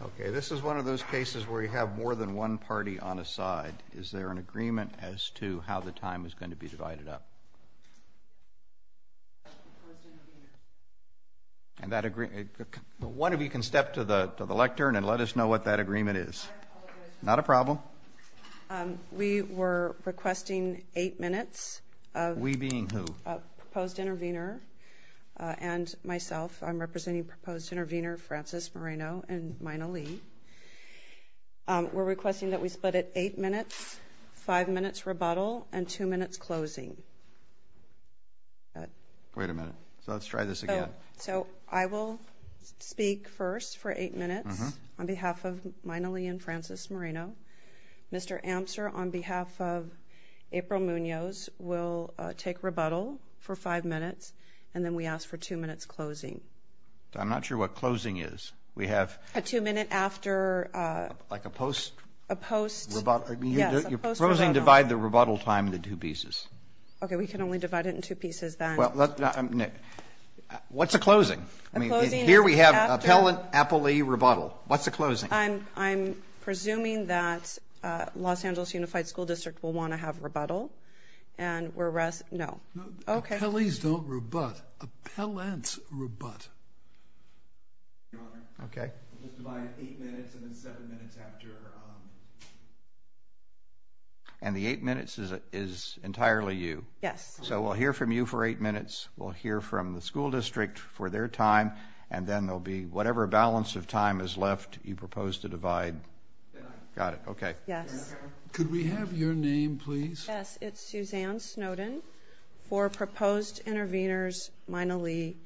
Okay, this is one of those cases where you have more than one party on a side. Is there an agreement as to how the time is going to be divided up? And that agreement, one of you can step to the lectern and let us know what that agreement is. Not a problem. We were requesting eight minutes. We being who? Proposed intervener and myself, I'm representing proposed intervener Francis Moreno and Myna Lee. We're requesting that we split it eight minutes, five minutes rebuttal and two minutes closing. Wait a minute, so let's try this again. So I will speak first for eight minutes on behalf of Myna Lee and Francis Moreno. Mr. Amster, on behalf of April Munoz, will take rebuttal for five minutes and then we ask for two minutes closing. I'm not sure what closing is. We have a two minute after, like a post, a post rebuttal. You're proposing to divide the rebuttal time into two pieces. Okay, we can only divide it in two pieces then. Well, what's the closing? Here we have appellant Appley rebuttal. What's the closing? I'm presuming that Los Angeles Unified School District will want to have rebuttal and we're rest. No. Okay. Please don't rebut. Appellants rebut. Okay. And the eight minutes is entirely you. Yes. So we'll hear from you for eight minutes. We'll hear from the school district for their time and then there'll be whatever balance of time is left you propose to divide. Got it. Okay. Yes. Could we have your name please? Yes, it's Suzanne Snowden for proposed intervenors Myna Lee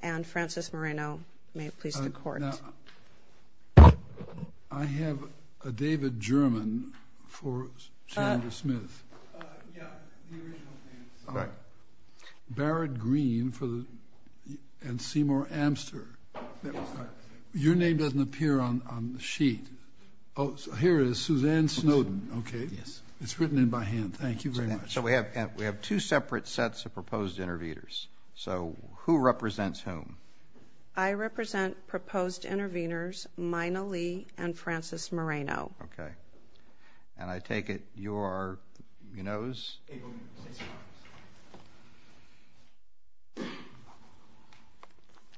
and Francis Moreno. May it please the court. I have a David German for Senator Smith. Barrett Green for the and Seymour Amster. Your name doesn't appear on the sheet. Oh, here is Suzanne Snowden. Okay. Yes. It's written in by hand. Thank you very much. So we have we have two separate sets of proposed intervenors. So who represents whom? I represent proposed intervenors Myna Lee and Francis Moreno. Okay. And I take it you are, you know,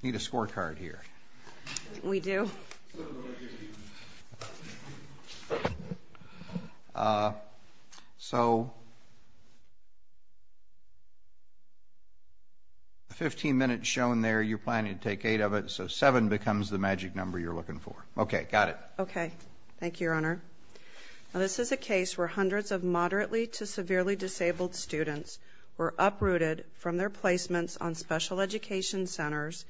need a scorecard here. We do. So 15 minutes shown there you're planning to take eight of it. So seven becomes the magic number you're looking for. Okay. Got it. Okay. Thank you, Your Honor. This is a case where hundreds of moderately to severely disabled students were uprooted from their placements on special education centers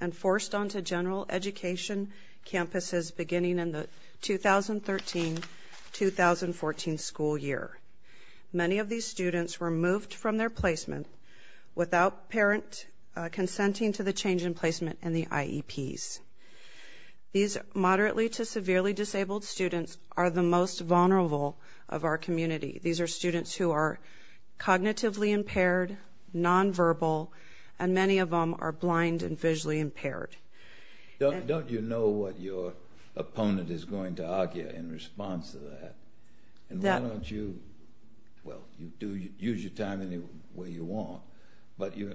and forced onto general education campuses beginning in the 2013-2014 school year. Many of these students were moved from their placement in the IEPs. These moderately to severely disabled students are the most vulnerable of our community. These are students who are cognitively impaired, nonverbal, and many of them are blind and visually impaired. Don't you know what your opponent is going to argue in response to that? And why don't you, well, you do use your time any way you want, but you...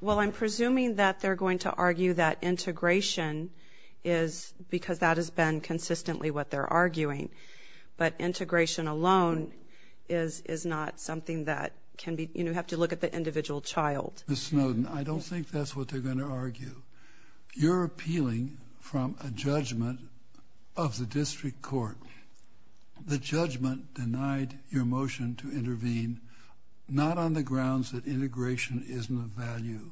Well, I'm presuming that they're going to argue that integration is, because that has been consistently what they're arguing, but integration alone is is not something that can be, you know, have to look at the individual child. Ms. Snowden, I don't think that's what they're going to argue. You're appealing from a judgment of the district court. The judgment denied your motion to intervene, not on the grounds that integration isn't of value.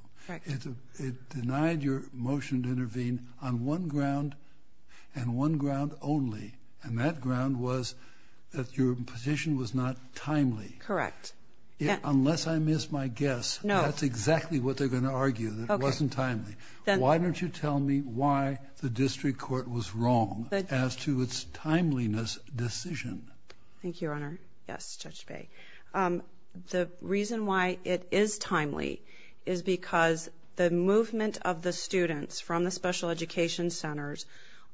It denied your motion to intervene on one ground and one ground only, and that ground was that your position was not timely. Correct. Unless I missed my guess, that's exactly what they're going to argue, that it wasn't timely. Why don't you tell me why the district court was wrong as to its timeliness decision? Thank you, Your Honor. Yes, Judge Bay. The reason why it is timely is because the movement of the students from the special education centers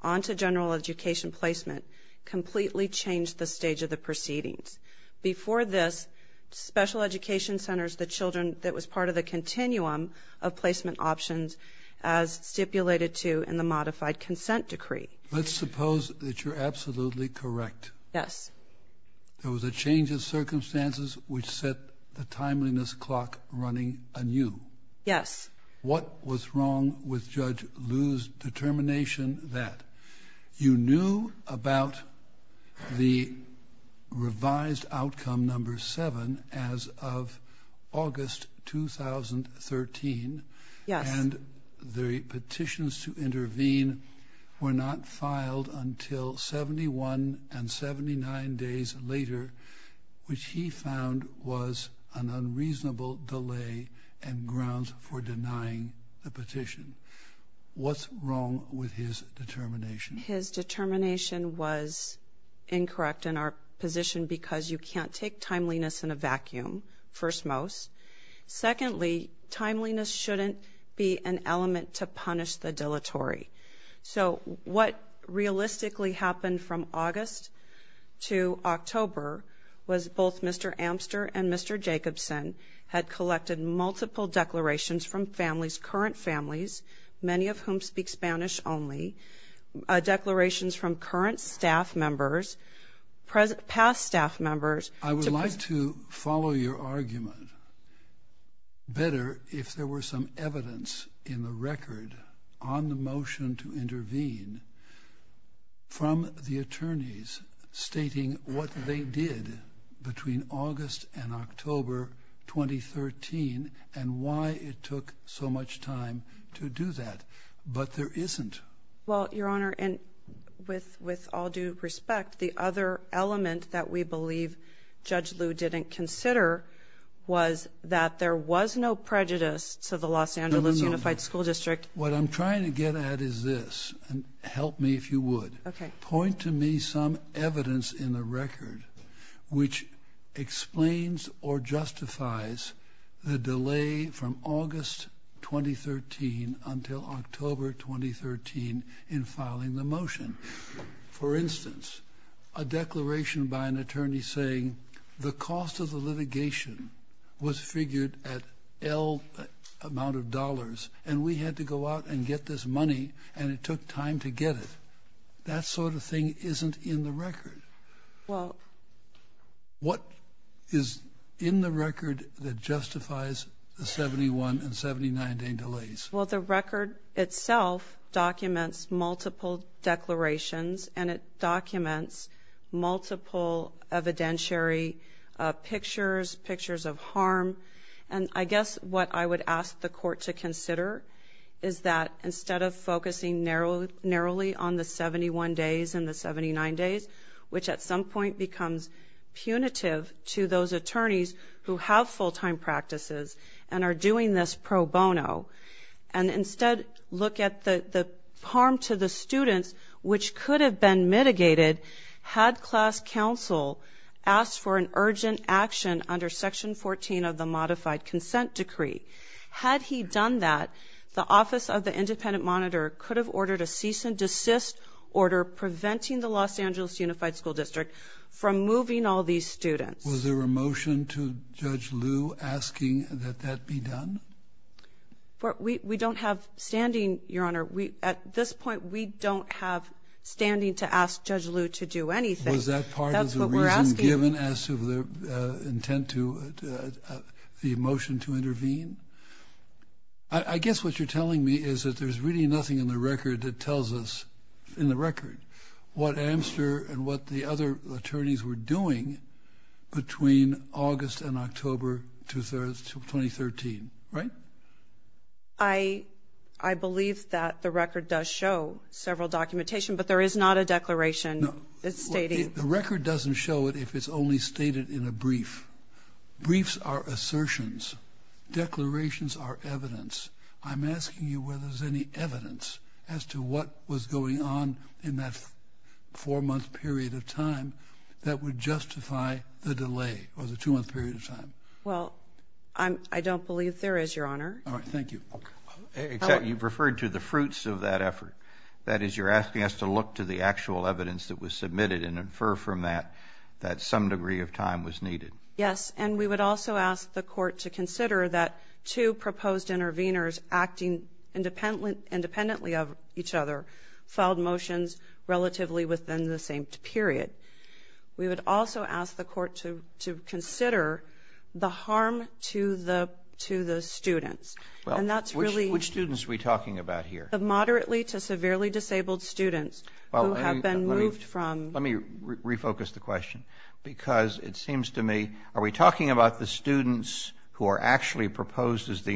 on to general education placement completely changed the stage of the proceedings. Before this, special education centers, the children that was part of the continuum of placement options, as stipulated to in the modified consent decree. Let's suppose that you're absolutely correct. Yes. There was a change of circumstances which set the timeliness clock running anew. Yes. What was wrong with Judge Liu's determination that you knew about the revised outcome number seven as of August 2013, and the petitions to 79 days later, which he found was an unreasonable delay and grounds for denying the petition? What's wrong with his determination? His determination was incorrect in our position because you can't take timeliness in a vacuum, first most. Secondly, timeliness shouldn't be an element to punish the dilatory. So what realistically happened from August to October was both Mr. Amster and Mr. Jacobson had collected multiple declarations from families, current families, many of whom speak Spanish only, declarations from current staff members, past staff members. I would like to follow your argument better if there were some evidence in the record on the motion to intervene from the attorneys stating what they did between August and October 2013 and why it took so much time to do that. But there isn't. Well, Your Honor, and with with all due respect, the other element that we believe Judge Liu didn't consider was that there was no prejudice to the Los Angeles Unified School District. What I'm trying to get at is this and help me if you would point to me some evidence in the record which explains or justifies the delay from August 2013 until October 2013 in filing the motion. For instance, a declaration by an attorney was figured at L amount of dollars and we had to go out and get this money and it took time to get it. That sort of thing isn't in the record. Well, what is in the record that justifies the 71 and 79 day delays? Well, the record itself documents multiple declarations and it documents multiple evidentiary pictures, pictures of harm. And I guess what I would ask the court to consider is that instead of focusing narrowly on the 71 days and the 79 days, which at some point becomes punitive to those attorneys who have full time practices and are doing this pro bono, and instead look at the harm to the students, which could have been mitigated had class counsel asked for an urgent action under section 14 of the modified consent decree. Had he done that, the office of the independent monitor could have ordered a cease and desist order preventing the Los Angeles Unified School District from moving all these students. Was there a motion to Judge Liu asking that that be done? But we don't have standing, Your Honor. At this point, we don't have standing to ask Judge Liu to do anything. Was that part of the reason given as to the intent to the motion to intervene? I guess what you're telling me is that there's really nothing in the record that tells us, in the record, what Amster and what the other attorneys were doing between August and October 2013, right? I believe that the record does show several documentation, but there is not a declaration stating... The record doesn't show it if it's only stated in a brief. Briefs are assertions. Declarations are evidence. I'm asking you whether there's any evidence as to what was going on in that four-month period of time that would justify the delay or the two-month period of time. Well, I don't believe there is, Your Honor. All right. Thank you. Except you've referred to the fruits of that effort. That is, you're asking us to look to the actual evidence that was submitted and infer from that that some degree of time was needed. Yes, and we would also ask the court to consider that two proposed interveners, acting independently of each other, filed motions relatively within the same period. We would also ask the court to consider the harm to the students, and that's really... Which students are we talking about here? Moderately to severely disabled students who have been moved from... Let me refocus the question, because it seems to me, are we talking about the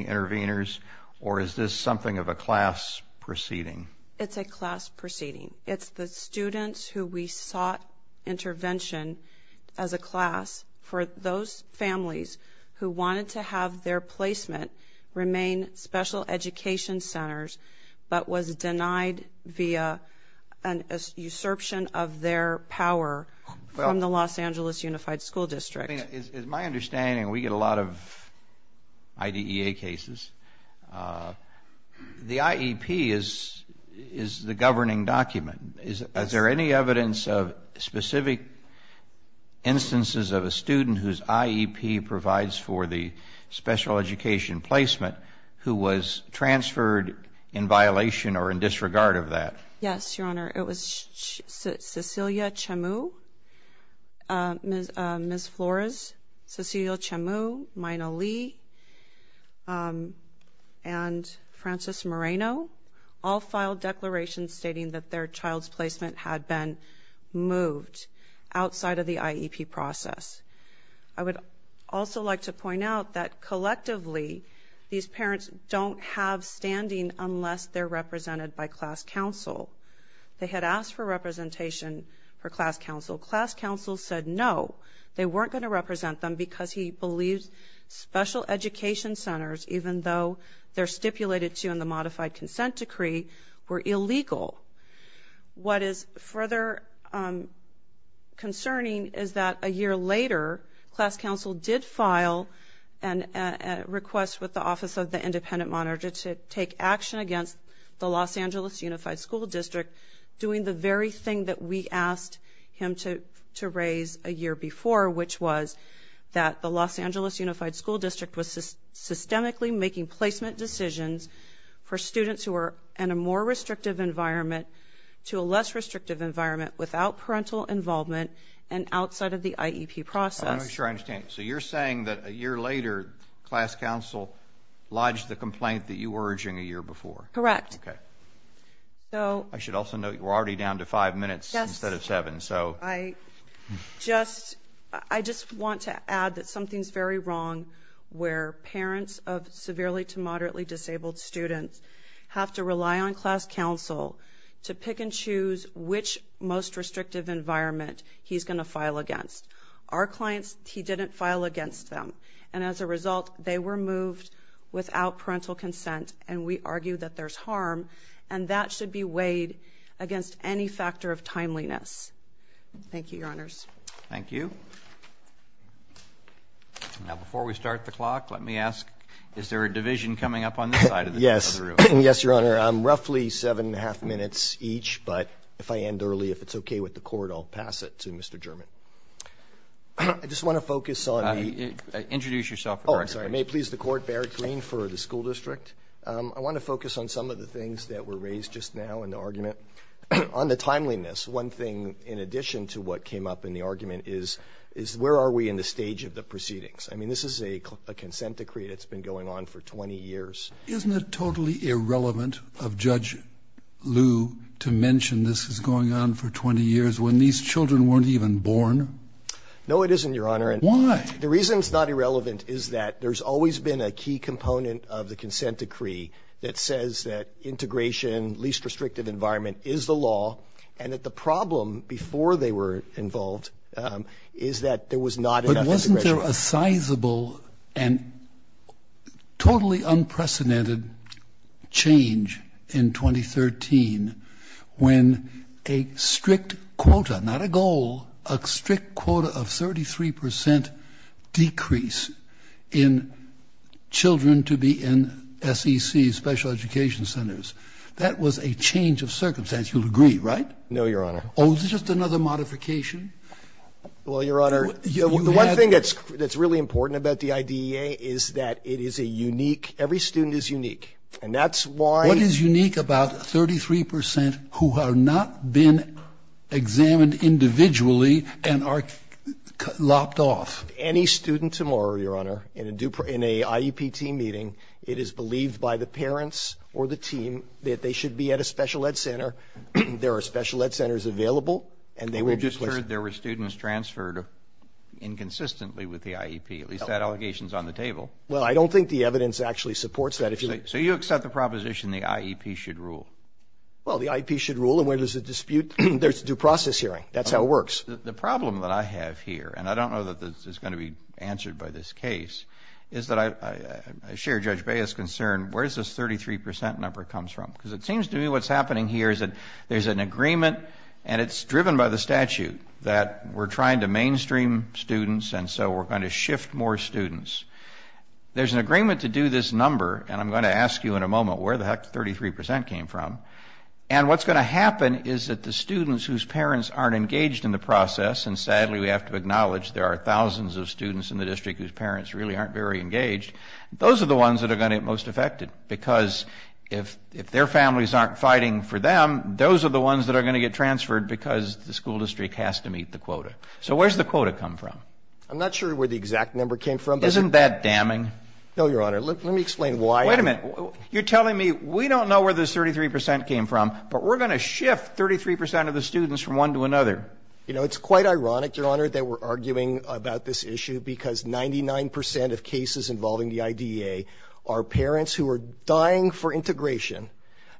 interveners, or is this something of a class proceeding? It's a class proceeding. It's the students who we sought intervention as a class for those families who wanted to have their placement remain special education centers, but was denied via an usurpation of their power from the Los Angeles Unified School District. As my understanding, we get a lot of IDEA cases. The IEP is the governing document. Is there any evidence of specific instances of a student whose IEP provides for the special education placement who was transferred in violation or in disregard of that? Yes, Your Honor. It was Cecilia Chamu, Ms. Flores, Cecilia Chamu, Myna Lee, and Frances Moreno, all filed declarations stating that their child's placement had been moved outside of the IEP process. I would also like to point out that collectively, these parents don't have They had asked for representation for class council. Class council said no. They weren't going to represent them because he believes special education centers, even though they're stipulated to in the modified consent decree, were illegal. What is further concerning is that a year later, class council did file a request with the Office of the Independent Monitor to take action against the Los Angeles Unified School District, doing the very thing that we asked him to raise a year before, which was that the Los Angeles Unified School District was systemically making placement decisions for students who were in a more restrictive environment to a less restrictive environment without parental involvement and outside of the IEP process. I'm not sure I understand. So you're saying that a year later, class council lodged the complaint that you were urging a year before? Correct. Okay. I should also note, we're already down to five minutes instead of seven. I just want to add that something's very wrong where parents of severely to moderately disabled students have to rely on class council to pick and choose which most restrictive environment he's going to file against. Our clients, he didn't file against them, and as a result, they were moved without parental consent, and we argue that there's harm, and that should be weighed against any factor of timeliness. Thank you, Your Honors. Thank you. Now, before we start the clock, let me ask, is there a division coming up on this side of the room? Yes. Yes, Your Honor. Roughly seven and a half minutes each, but if I end early, if it's okay with the Court, I'll pass it to Mr. German. I just want to focus on the ---- Introduce yourself. Oh, I'm sorry. May it please the Court, Barrett Green for the school district. I want to focus on some of the things that were raised just now in the argument. On the timeliness, one thing in addition to what came up in the argument is where are we in the stage of the proceedings? I mean, this is a consent decree that's been going on for 20 years. Isn't it totally irrelevant of Judge Liu to mention this is going on for 20 years when these children weren't even born? No, it isn't, Your Honor. Why? The reason it's not irrelevant is that there's always been a key component of the consent decree that says that integration, least restrictive environment, is the law, and that the problem before they were involved is that there was not enough integration. But wasn't there a sizable and totally unprecedented change in 2013 when a strict quota, not a goal, a strict quota of 33 percent decrease in children to be in SEC special education centers? That was a change of circumstance. You'll agree, right? No, Your Honor. Oh, is it just another modification? Well, Your Honor, the one thing that's really important about the IDEA is that it And that's why ---- What is unique about 33 percent who have not been examined individually and are lopped off? Any student tomorrow, Your Honor, in a IEP team meeting, it is believed by the parents or the team that they should be at a special ed center. There are special ed centers available, and they will be placed there. We just heard there were students transferred inconsistently with the IEP. At least that allegation is on the table. Well, I don't think the evidence actually supports that. So you accept the proposition the IEP should rule? Well, the IEP should rule, and when there's a dispute, there's a due process hearing. That's how it works. The problem that I have here, and I don't know that this is going to be answered by this case, is that I share Judge Bea's concern. Where does this 33 percent number come from? Because it seems to me what's happening here is that there's an agreement, and it's driven by the statute, that we're trying to mainstream students, and so we're going to shift more students. There's an agreement to do this number, and I'm going to ask you in a moment where the heck the 33 percent came from. And what's going to happen is that the students whose parents aren't engaged in the process, and sadly we have to acknowledge there are thousands of students in the district whose parents really aren't very engaged, those are the ones that are going to get most affected, because if their families aren't fighting for them, those are the ones that are going to get transferred because the school district has to meet the quota. So where's the quota come from? I'm not sure where the exact number came from. Isn't that damning? No, Your Honor. Let me explain why. Wait a minute. You're telling me we don't know where this 33 percent came from, but we're going to shift 33 percent of the students from one to another. You know, it's quite ironic, Your Honor, that we're arguing about this issue because 99 percent of cases involving the IDEA are parents who are dying for integration,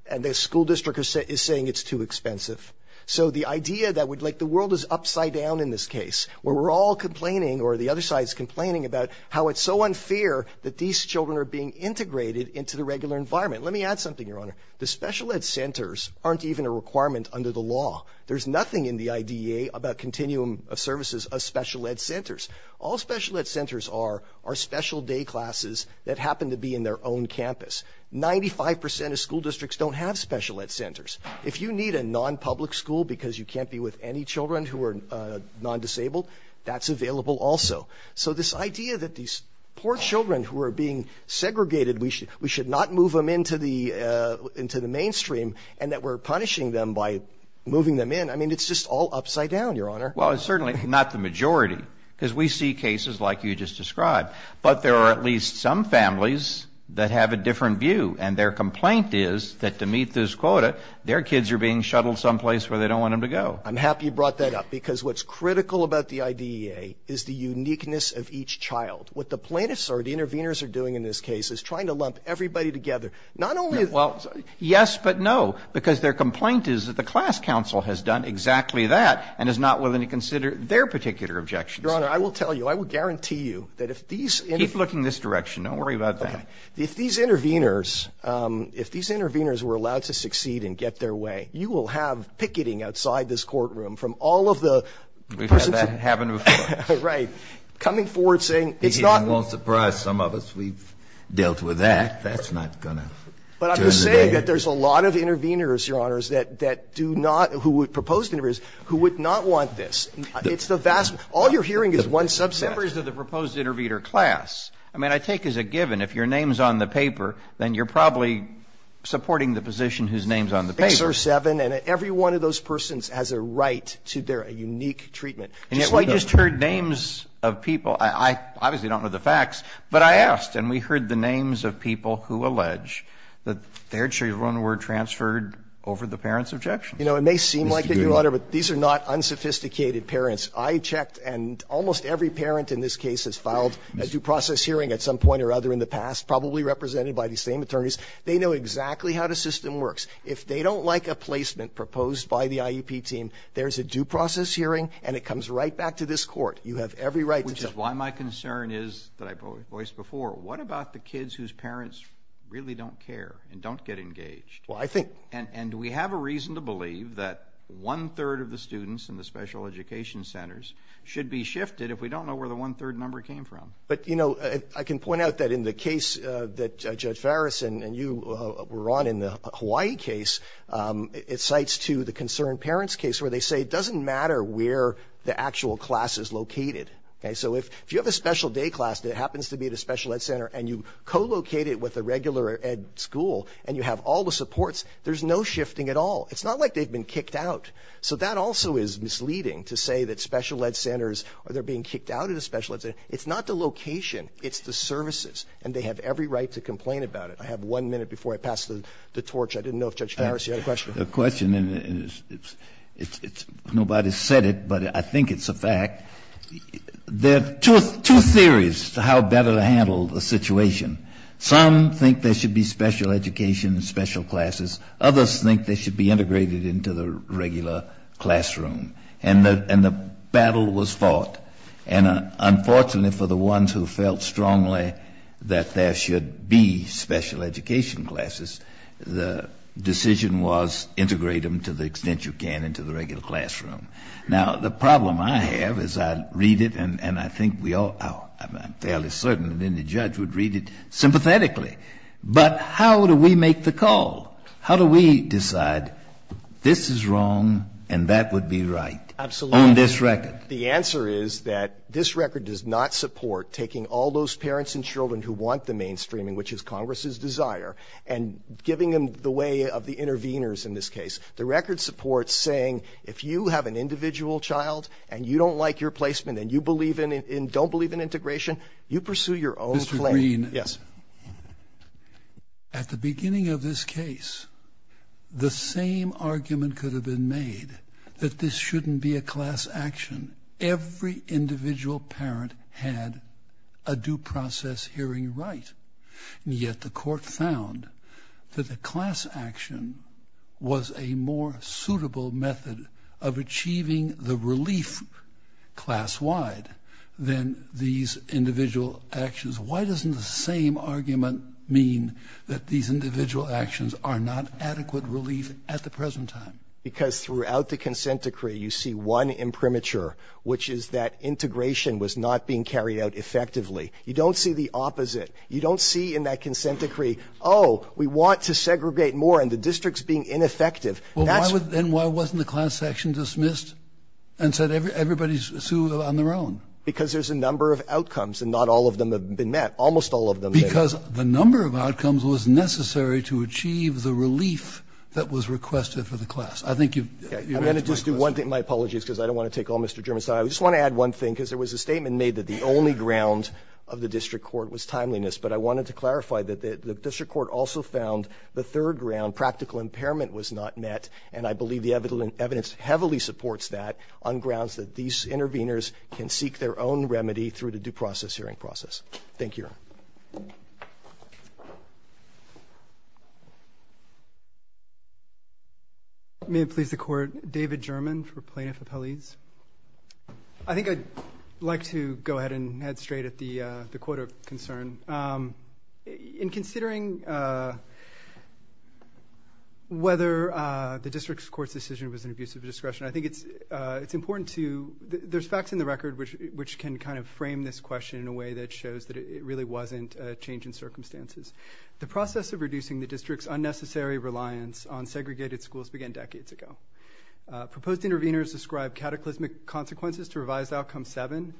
and the school district is saying it's too expensive. So the idea that we'd like the world is upside down in this case, where we're all complaining, or the other side is complaining, about how it's so unfair that these children are being integrated into the regular environment. Let me add something, Your Honor. The special ed centers aren't even a requirement under the law. There's nothing in the IDEA about continuum of services of special ed centers. All special ed centers are are special day classes that happen to be in their own campus. Ninety-five percent of school districts don't have special ed centers. If you need a non-public school because you can't be with any children who are non-disabled, that's available also. So this idea that these poor children who are being segregated, we should not move them into the mainstream, and that we're punishing them by moving them in, I mean, it's just all upside down, Your Honor. Well, it's certainly not the majority, because we see cases like you just described. But there are at least some families that have a different view, and their complaint is that to meet this quota, their kids are being shuttled someplace where they don't want them to go. I'm happy you brought that up, because what's critical about the IDEA is the uniqueness of each child. What the plaintiffs are, the interveners are doing in this case, is trying to lump everybody together. Not only is it the same. Well, yes, but no, because their complaint is that the class council has done exactly that and is not willing to consider their particular objections. Your Honor, I will tell you, I will guarantee you that if these interveners were allowed to succeed and get their way, you will have picketing outside this courtroom from all of the persons. We've had that happen before. Right. Coming forward saying it's not. It won't surprise some of us. We've dealt with that. That's not going to turn the day. But I'm just saying that there's a lot of interveners, Your Honors, that do not, who would propose to intervene, who would not want this. It's the vast. All you're hearing is one subset. Members of the proposed intervener class, I mean, I take as a given, if your name is on the paper, then you're probably supporting the position whose name is on the paper. And every one of those persons has a right to their unique treatment. And yet we just heard names of people, I obviously don't know the facts, but I asked and we heard the names of people who allege that their children were transferred over the parents' objections. You know, it may seem like it, Your Honor, but these are not unsophisticated parents. I checked and almost every parent in this case has filed a due process hearing at some point or other in the past, probably represented by the same attorneys. They know exactly how the system works. If they don't like a placement proposed by the IEP team, there's a due process hearing and it comes right back to this Court. You have every right to judge. Which is why my concern is, that I voiced before, what about the kids whose parents really don't care and don't get engaged? Well, I think. And do we have a reason to believe that one-third of the students in the special education centers should be shifted if we don't know where the one-third number came from? But, you know, I can point out that in the case that Judge Farris and you were on in the Hawaii case, it cites to the concerned parents case where they say it doesn't matter where the actual class is located. Okay? So if you have a special day class that happens to be at a special ed center and you co-locate it with a regular ed school and you have all the supports, there's no shifting at all. It's not like they've been kicked out. So that also is misleading to say that special ed centers, or they're being kicked out of the special ed center. It's not the location. It's the services. And they have every right to complain about it. I have one minute before I pass the torch. I didn't know if Judge Farris had a question. The question is, nobody said it, but I think it's a fact. There are two theories to how better to handle the situation. Some think there should be special education and special classes. Others think they should be integrated into the regular classroom. And the battle was fought. And unfortunately for the ones who felt strongly that there should be special education classes, the decision was integrate them to the extent you can into the regular classroom. Now, the problem I have is I read it, and I think we all are fairly certain that any judge would read it sympathetically. But how do we make the call? How do we decide this is wrong and that would be right on this record? The answer is that this record does not support taking all those parents and children who want the mainstreaming, which is Congress's desire, and giving them the way of the interveners in this case. The record supports saying if you have an individual child and you don't like your placement and you don't believe in integration, you pursue your own claim. Mr. Green. Yes. At the beginning of this case, the same argument could have been made that this individual parent had a due process hearing right. And yet the court found that the class action was a more suitable method of achieving the relief class-wide than these individual actions. Why doesn't the same argument mean that these individual actions are not adequate relief at the present time? Because throughout the consent decree, you see one imprimatur, which is that integration was not being carried out effectively. You don't see the opposite. You don't see in that consent decree, oh, we want to segregate more, and the district is being ineffective. That's why. And why wasn't the class action dismissed and said everybody is on their own? Because there's a number of outcomes, and not all of them have been met. Almost all of them. Because the number of outcomes was necessary to achieve the relief that was requested for the class. I think you've answered my question. I'm going to just do one thing. My apologies, because I don't want to take all Mr. German's time. I just want to add one thing, because there was a statement made that the only ground of the district court was timeliness. But I wanted to clarify that the district court also found the third ground, practical impairment, was not met. And I believe the evidence heavily supports that on grounds that these interveners can seek their own remedy through the due process hearing process. Thank you, Your Honor. May it please the Court, David German for Plaintiff Appellees. I think I'd like to go ahead and head straight at the quota concern. In considering whether the district court's decision was an abuse of discretion, I think it's important to – there's facts in the record which can kind of frame this question in a way that shows that it really wasn't a change in circumstances. The process of reducing the district's unnecessary reliance on segregated schools began decades ago. Proposed interveners described cataclysmic consequences to revised Outcome 7,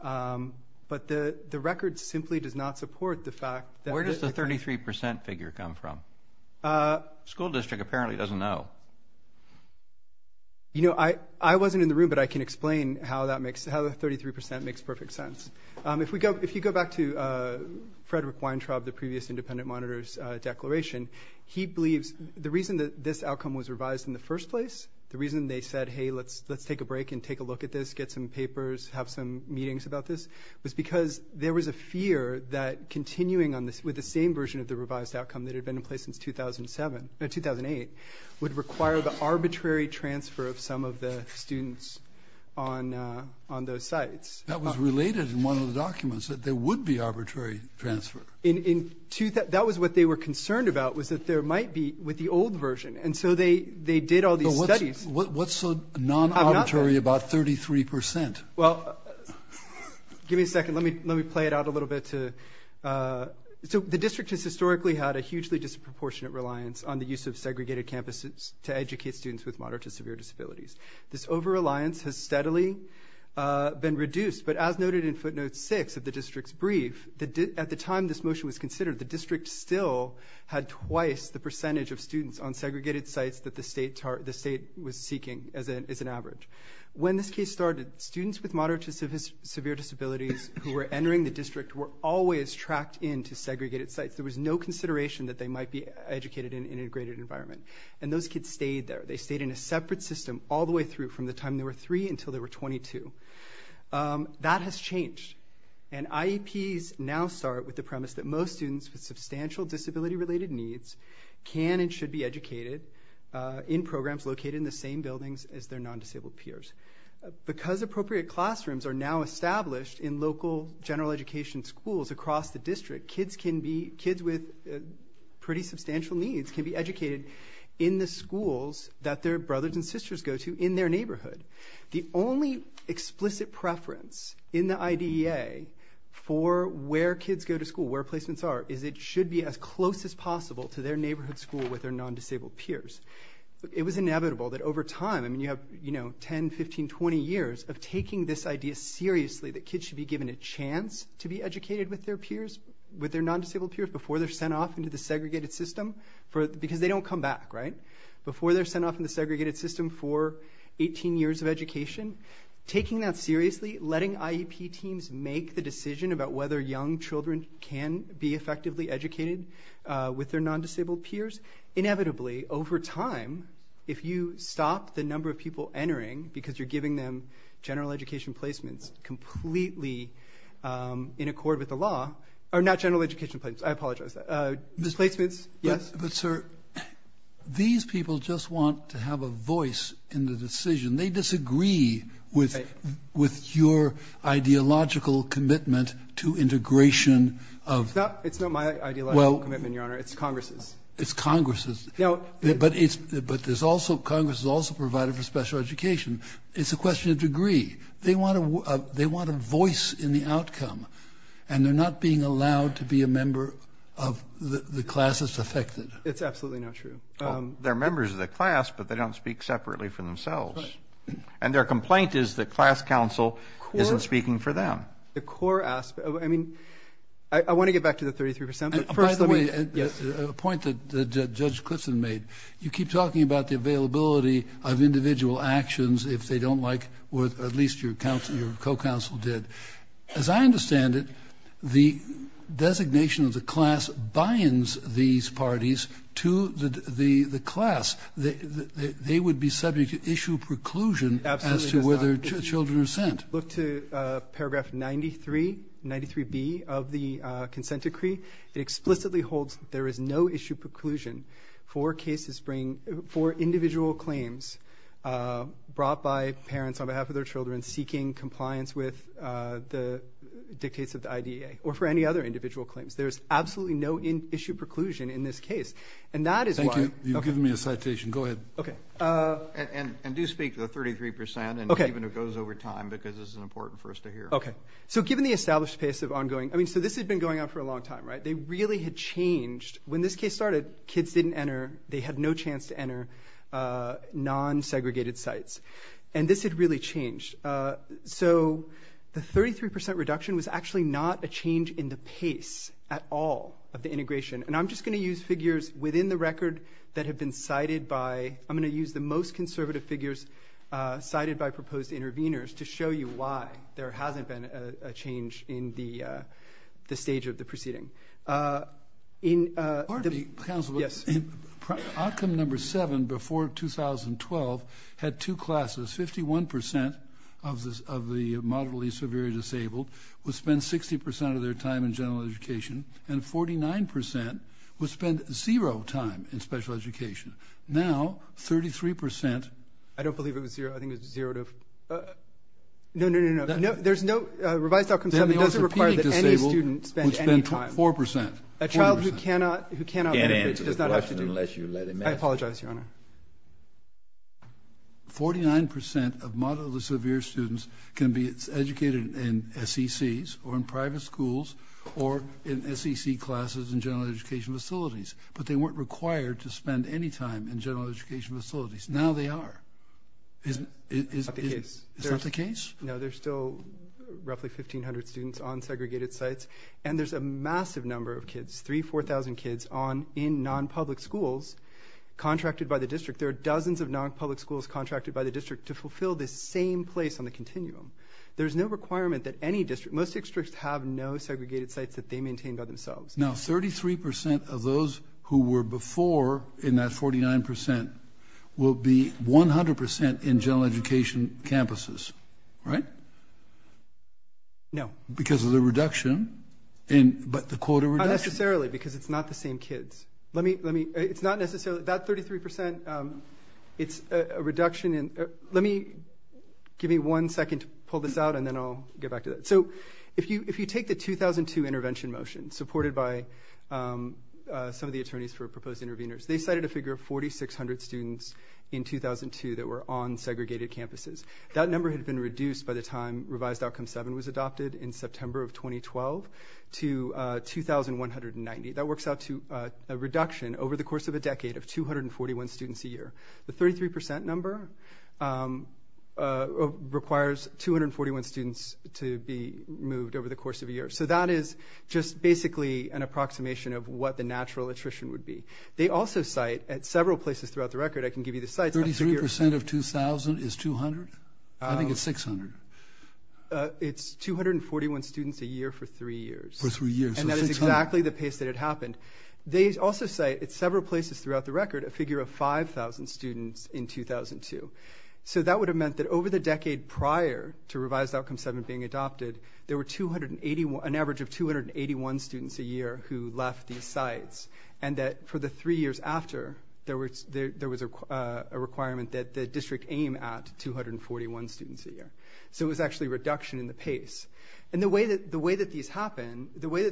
but the record simply does not support the fact that – Where does the 33 percent figure come from? School district apparently doesn't know. You know, I wasn't in the room, but I can explain how that makes – how the 33 percent makes perfect sense. If we go – if you go back to Frederick Weintraub, the previous independent monitor's declaration, he believes the reason that this outcome was revised in the first place, the reason they said, hey, let's take a break and take a look at this, get some papers, have some meetings about this, was because there was a fear that continuing on this with the same version of the revised outcome that had been in place since 2007 – no, 2008 would require the arbitrary transfer of some of the students on those sites. That was related in one of the documents, that there would be arbitrary transfer. In – that was what they were concerned about, was that there might be – with the old version. And so they did all these studies – What's so non-arbitrary about 33 percent? Well, give me a second. Let me play it out a little bit to – so the district has historically had a hugely disproportionate reliance on the use of segregated campuses to educate students with moderate to severe disabilities. This over-reliance has steadily been reduced, but as noted in footnote 6 of the district's brief, at the time this motion was considered, the district still had twice the percentage of students on segregated sites that the state was seeking as an average. When this case started, students with moderate to severe disabilities who were entering the district were always tracked into segregated sites. There was no consideration that they might be educated in an integrated environment. And those kids stayed there. They stayed in a separate system all the way through from the time they were 3 until they were 22. That has changed. And IEPs now start with the premise that most students with substantial disability-related needs can and should be educated in programs located in the same buildings as their non-disabled peers. Because appropriate classrooms are now established in local general education schools across the district, kids with pretty substantial needs can be educated in the schools that their brothers and sisters go to in their neighborhood. The only explicit preference in the IDEA for where kids go to school, where placements are, is it should be as close as possible to their neighborhood school with their non-disabled peers. It was inevitable that over time, you have 10, 15, 20 years of taking this idea seriously that kids should be given a chance to be educated with their peers, with their non-disabled peers, before they're sent off into the segregated system. Because they don't come back, right? Before they're sent off into the segregated system for 18 years of education. Taking that seriously, letting IEP teams make the decision about whether young children can be effectively educated with their non-disabled peers. Inevitably, over time, if you stop the number of people entering because you're giving them general education placements completely in accord with the law, or not general education placements, I apologize. Placements, yes? But sir, these people just want to have a voice in the decision. They disagree with your ideological commitment to integration of... It's not my ideological commitment, Your Honor. It's Congress's. It's Congress's. But Congress has also provided for special education. It's a question of degree. They want a voice in the outcome. And they're not being allowed to be a member of the class that's affected. It's absolutely not true. They're members of the class, but they don't speak separately for themselves. Right. And their complaint is that class counsel isn't speaking for them. The core aspect... I mean, I want to get back to the 33%, but first let me... By the way, a point that Judge Clitson made. You keep talking about the availability of individual actions if they don't like, or at least your co-counsel did. As I understand it, the designation of the class binds these parties to the class. They would be subject to issue preclusion as to whether children are sent. Look to paragraph 93, 93B of the consent decree. It explicitly holds there is no issue preclusion for individual claims brought by parents on behalf of their children seeking compliance with the dictates of the IDEA or for any other individual claims. There's absolutely no issue preclusion in this case. And that is why... Thank you. You've given me a citation. Go ahead. Okay. And do speak to the 33%, and even if it goes over time, because this is important for us to hear. Okay. So given the established pace of ongoing... So this had been going on for a long time, right? They really had changed. When this case started, kids didn't enter. They had no chance to enter non-segregated sites. And this had really changed. So the 33% reduction was actually not a change in the pace at all of the integration. And I'm just going to use figures within the record that have been cited by... I'm going to use the most conservative figures cited by proposed interveners to show you why there hasn't been a change in the stage of the proceeding. Pardon me, counsel. Yes. Outcome number seven before 2012 had two classes. 51% of the moderately severely disabled would spend 60% of their time in general education and 49% would spend zero time in special education. Now, 33%... I don't believe it was zero. I think it was zero to... No, no, no, no. There's no revised outcome seven. It doesn't require that any student spend any time. 4%. A child who cannot... Can't answer the question unless you let him answer it. I apologize, Your Honor. 49% of moderately severe students can be educated in SECs or in private schools or in SEC classes in general education facilities, but they weren't required to spend any time in general education facilities. Now they are. It's not the case. It's not the case? No, there's still roughly 1,500 students on segregated sites, and there's a massive number of kids, 3,000, 4,000 kids in non-public schools contracted by the district. There are dozens of non-public schools contracted by the district to fulfill this same place on the continuum. There's no requirement that any district... Most districts have no segregated sites that they maintain by themselves. Now, 33% of those who were before in that 49% will be 100% in general education campuses, right? No. Because of the reduction in the quota reduction. Not necessarily because it's not the same kids. Let me... It's not necessarily... That 33%, it's a reduction in... Let me... Give me one second to pull this out, and then I'll get back to that. So if you take the 2002 intervention motion supported by some of the attorneys for proposed interveners, they cited a figure of 4,600 students in 2002 that were on segregated campuses. That number had been reduced by the time Revised Outcome 7 was adopted in September of 2012 to 2,190. That works out to a reduction over the course of a decade of 241 students a year. The 33% number requires 241 students to be moved over the course of a year. So that is just basically an approximation of what the natural attrition would be. They also cite at several places throughout the record, I can give you the sites... 33% of 2,000 is 200? I think it's 600. It's 241 students a year for three years. For three years. They also cite at several places throughout the record a figure of 5,000 students in 2002. So that would have meant that over the decade prior to Revised Outcome 7 being adopted, there were an average of 281 students a year who left these sites, and that for the three years after, there was a requirement that the district aim at 241 students a year. So it was actually a reduction in the pace. And the way that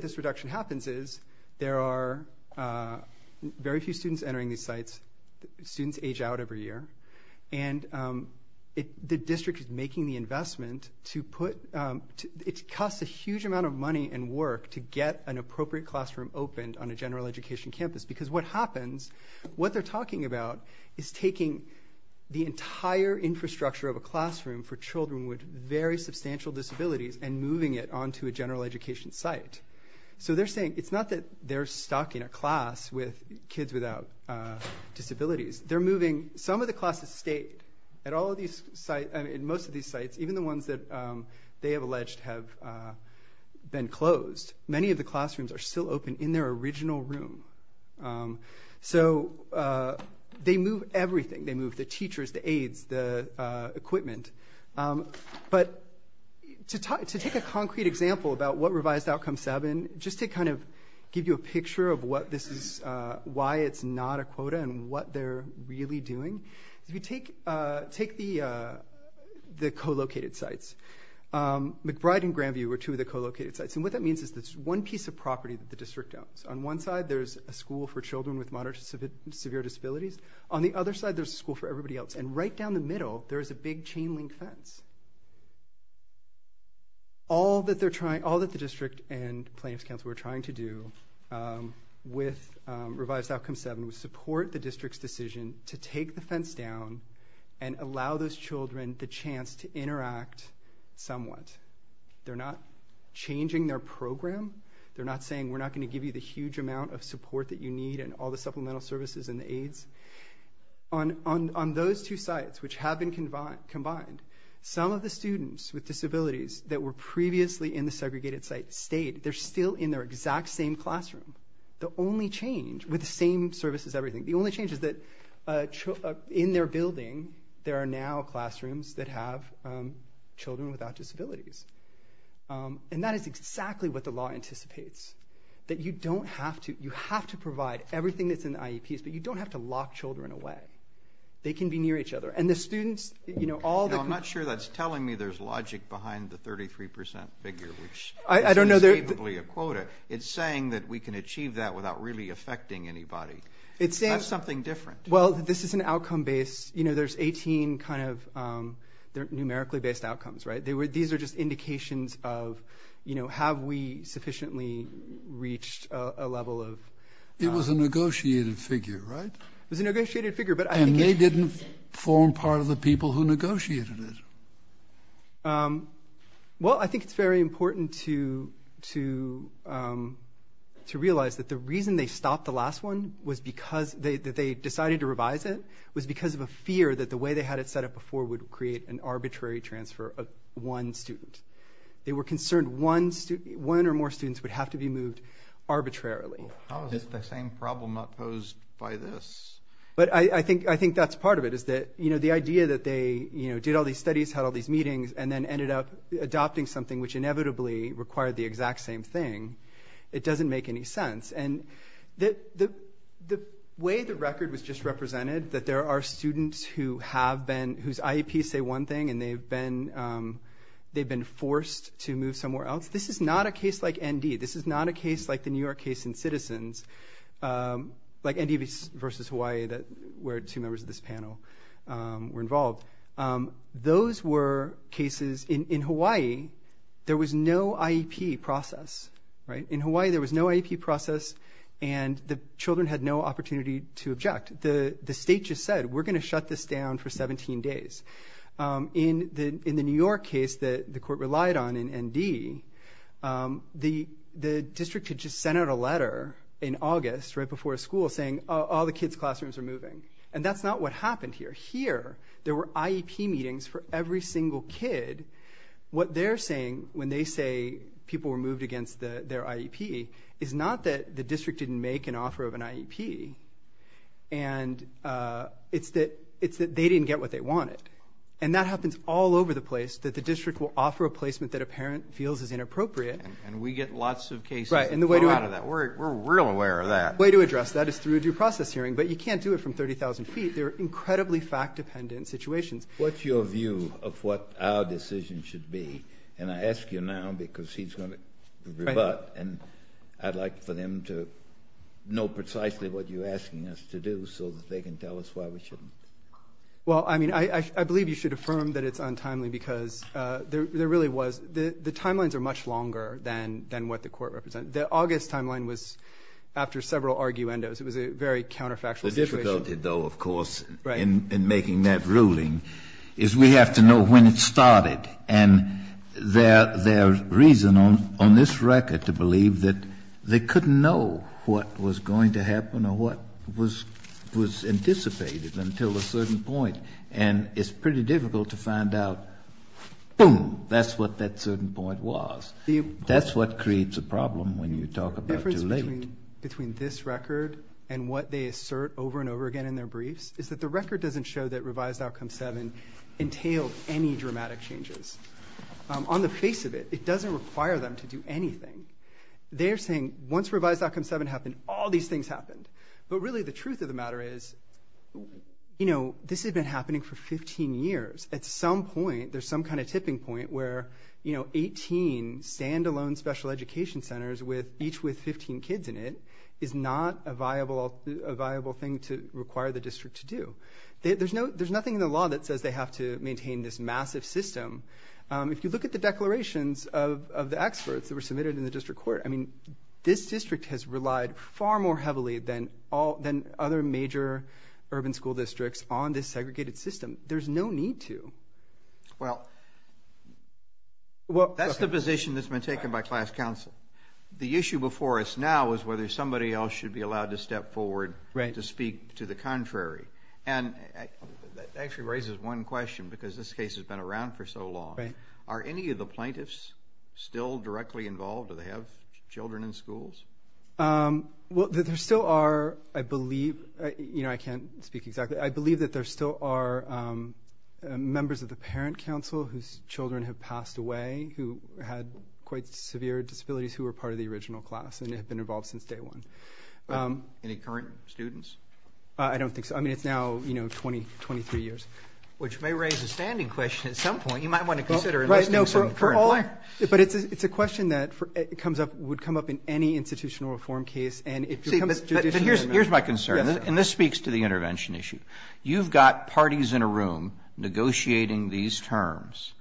this reduction happens is there are very few students entering these sites. Students age out every year. And the district is making the investment to put... It costs a huge amount of money and work to get an appropriate classroom opened on a general education campus because what happens, what they're talking about is taking the entire infrastructure of a classroom for children with very substantial disabilities and moving it onto a general education site. So they're saying... It's not that they're stocking a class with kids without disabilities. They're moving... Some of the classes stay at all of these sites... I mean, most of these sites, even the ones that they have alleged have been closed. Many of the classrooms are still open in their original room. So they move everything. They move the teachers, the aides, the equipment. But to take a concrete example about what Revised Outcome 7, just to kind of give you a picture of why it's not a quota and what they're really doing, if you take the co-located sites, McBride and Grandview are two of the co-located sites. And what that means is there's one piece of property that the district owns. On one side, there's a school for children with moderate to severe disabilities. On the other side, there's a school for everybody else. And right down the middle, there's a big chain-link fence. All that the district and Plaintiffs' Council are trying to do with Revised Outcome 7 was support the district's decision to take the fence down and allow those children the chance to interact somewhat. They're not changing their program. They're not saying, we're not going to give you the huge amount of support that you need and all the supplemental services and the aides. On those two sites, which have been combined, some of the students with disabilities that were previously in the segregated site stayed. They're still in their exact same classroom. The only change, with the same services and everything, the only change is that in their building, there are now classrooms that have children without disabilities. And that is exactly what the law anticipates, that you have to provide everything that's in the IEPs, but you don't have to lock children away. They can be near each other. I'm not sure that's telling me there's logic behind the 33% figure, which is unbelievably a quota. It's saying that we can achieve that without really affecting anybody. That's something different. Well, this is an outcome-based... There's 18 numerically-based outcomes. These are just indications of, have we sufficiently reached a level of... It was a negotiated figure, right? It was a negotiated figure. And they didn't form part of the people who negotiated it. Well, I think it's very important to realize that the reason they stopped the last one, that they decided to revise it, was because of a fear that the way they had it set up before would create an arbitrary transfer of one student. They were concerned one or more students would have to be moved arbitrarily. How is this the same problem not posed by this? But I think that's part of it, is that the idea that they did all these studies, had all these meetings, and then ended up adopting something which inevitably required the exact same thing, it doesn't make any sense. And the way the record was just represented, that there are students whose IEPs say one thing and they've been forced to move somewhere else, this is not a case like ND. This is not a case like the New York case in Citizens, like ND versus Hawaii, where two members of this panel were involved. Those were cases... In Hawaii, there was no IEP process, right? In Hawaii, there was no IEP process, and the children had no opportunity to object. The state just said, we're going to shut this down for 17 days. In the New York case that the court relied on in ND, the district had just sent out a letter in August, right before school, saying all the kids' classrooms are moving. And that's not what happened here. Here, there were IEP meetings for every single kid. What they're saying, when they say people were moved against their IEP, is not that the district didn't make an offer of an IEP, and it's that they didn't get what they wanted. And that happens all over the place, that the district will offer a placement that a parent feels is inappropriate. And we get lots of cases that fall out of that. We're real aware of that. The way to address that is through a due process hearing, but you can't do it from 30,000 feet. They're incredibly fact-dependent situations. What's your view of what our decision should be? And I ask you now because he's going to rebut, and I'd like for them to know precisely what you're asking us to do so that they can tell us why we shouldn't. Well, I mean, I believe you should affirm that it's untimely because there really was the timelines are much longer than what the Court represents. The August timeline was after several arguendos. It was a very counterfactual situation. The difficulty, though, of course, in making that ruling is we have to know when it started. And their reason on this record to believe that they couldn't know what was going to happen or what was anticipated until a certain point. And it's pretty difficult to find out, boom, that's what that certain point was. That's what creates a problem when you talk about delay. The difference between this record and what they assert over and over again in their briefs is that the record doesn't show that Revised Outcome 7 entailed any dramatic changes. On the face of it, it doesn't require them to do anything. They're saying once Revised Outcome 7 happened, all these things happened. But really the truth of the matter is, you know, this had been happening for 15 years. At some point, there's some kind of tipping point where, you know, 18 stand-alone special education centers each with 15 kids in it is not a viable thing to require the district to do. There's nothing in the law that says they have to maintain this massive system. If you look at the declarations of the experts that were submitted in the district court, I mean, this district has relied far more heavily than other major urban school districts on this segregated system. There's no need to. Well, that's the position that's been taken by class counsel. The issue before us now is whether somebody else should be allowed to step forward to speak to the contrary. And that actually raises one question because this case has been around for so long. Are any of the plaintiffs still directly involved? Do they have children in schools? Well, there still are, I believe... You know, I can't speak exactly. I believe that there still are members of the parent counsel whose children have passed away who had quite severe disabilities who were part of the original class and have been involved since day one. Any current students? I don't think so. I mean, it's now, you know, 23 years. Which may raise a standing question at some point. You might want to consider... But it's a question that would come up in any institutional reform case. Here's my concern. And this speaks to the intervention issue. You've got parties in a room negotiating these terms.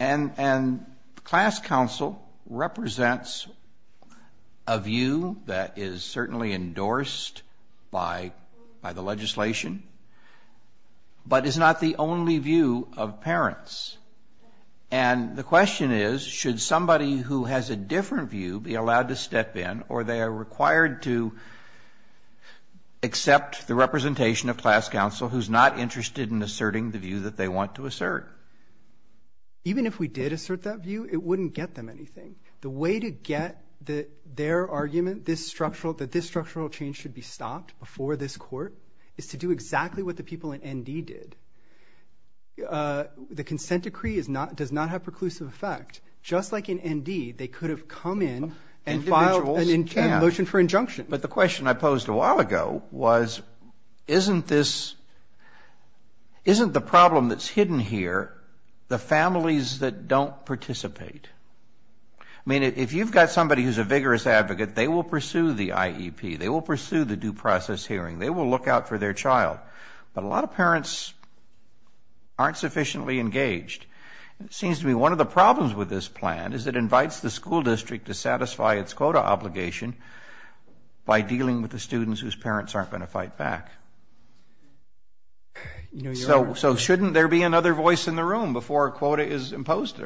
And class counsel represents a view that is certainly endorsed by the legislation, but is not the only view of parents. And the question is, should somebody who has a different view be allowed to step in, or they are required to accept the representation of class counsel who's not interested in asserting the view that they want to assert? Even if we did assert that view, it wouldn't get them anything. The way to get their argument that this structural change should be stopped before this court is to do exactly what the people in ND did. The consent decree does not have preclusive effect. Just like in ND, they could have come in and filed a motion for injunction. But the question I posed a while ago was, isn't the problem that's hidden here the families that don't participate? I mean, if you've got somebody who's a vigorous advocate, they will pursue the IEP. They will pursue the due process hearing. They will look out for their child. But a lot of parents aren't sufficiently engaged. It seems to me one of the problems with this plan is it invites the school district to satisfy its quota obligation by dealing with the students whose parents aren't going to fight back. So shouldn't there be another voice in the room before a quota is imposed?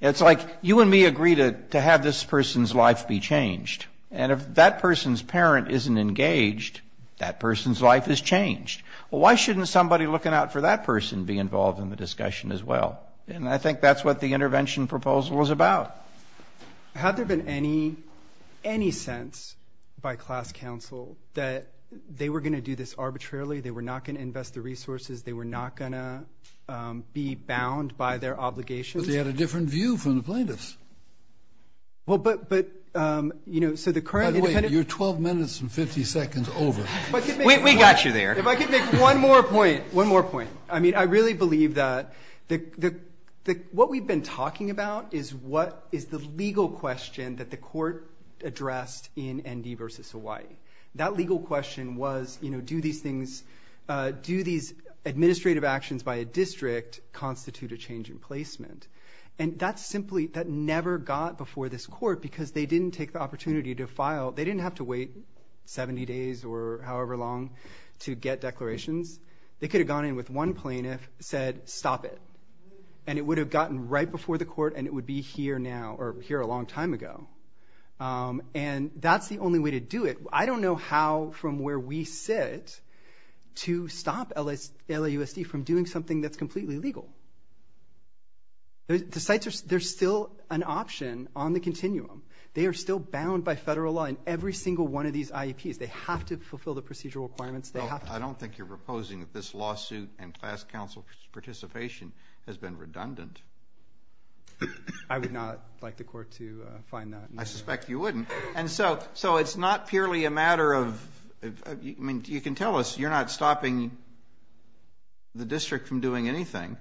It's like you and me agree to have this person's life be changed. And if that person's parent isn't engaged, that person's life is changed. Well, why shouldn't somebody looking out for that person be involved in the discussion as well? And I think that's what the intervention proposal is about. Had there been any sense by class counsel that they were going to do this arbitrarily, they were not going to invest the resources, they were not going to be bound by their obligations? But they had a different view from the plaintiffs. Well, but, you know, so the current independent... You're 12 minutes and 50 seconds over. We got you there. If I could make one more point, one more point. I mean, I really believe that what we've been talking about is the legal question that the court addressed in ND v. Hawaii. That legal question was, you know, do these things, do these administrative actions by a district constitute a change in placement? And that's simply, that never got before this court because they didn't take the opportunity to file, they didn't have to wait 70 days or however long to get declarations. They could have gone in with one plaintiff, said, stop it. And it would have gotten right before the court and it would be here now, or here a long time ago. And that's the only way to do it. I don't know how, from where we sit, to stop LAUSD from doing something that's completely legal. The sites are still an option on the continuum. They are still bound by federal law in every single one of these IEPs. They have to fulfill the procedural requirements. I don't think you're proposing that this lawsuit and class council participation has been redundant. I would not like the court to find that. I suspect you wouldn't. And so it's not purely a matter of, I mean, you can tell us you're not stopping the district from doing anything.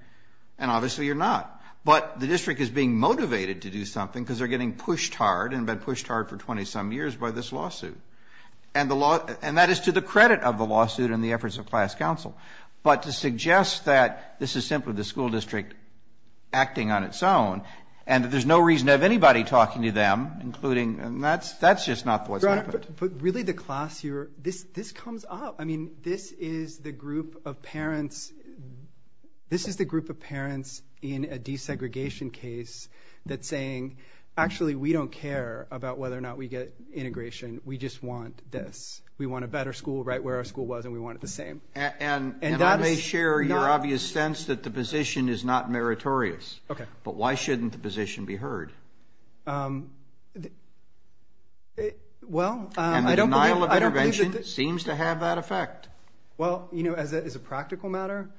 And obviously you're not. But the district is being motivated to do something because they're getting pushed hard and have been pushed hard for 20-some years by this lawsuit. And that is to the credit of the lawsuit and the efforts of class council. But to suggest that this is simply the school district acting on its own and that there's no reason to have anybody talking to them, that's just not the way to do it. But really the class here, this comes up. I mean, this is the group of parents in a desegregation case that's saying, actually, we don't care about whether or not we get integration. We just want this. We want a better school right where our school was and we want it the same. And I may share your obvious sense that the position is not meritorious. Okay. But why shouldn't the position be heard? Well, I don't believe... And the denial of intervention seems to have that effect. Well, you know, as a practical matter,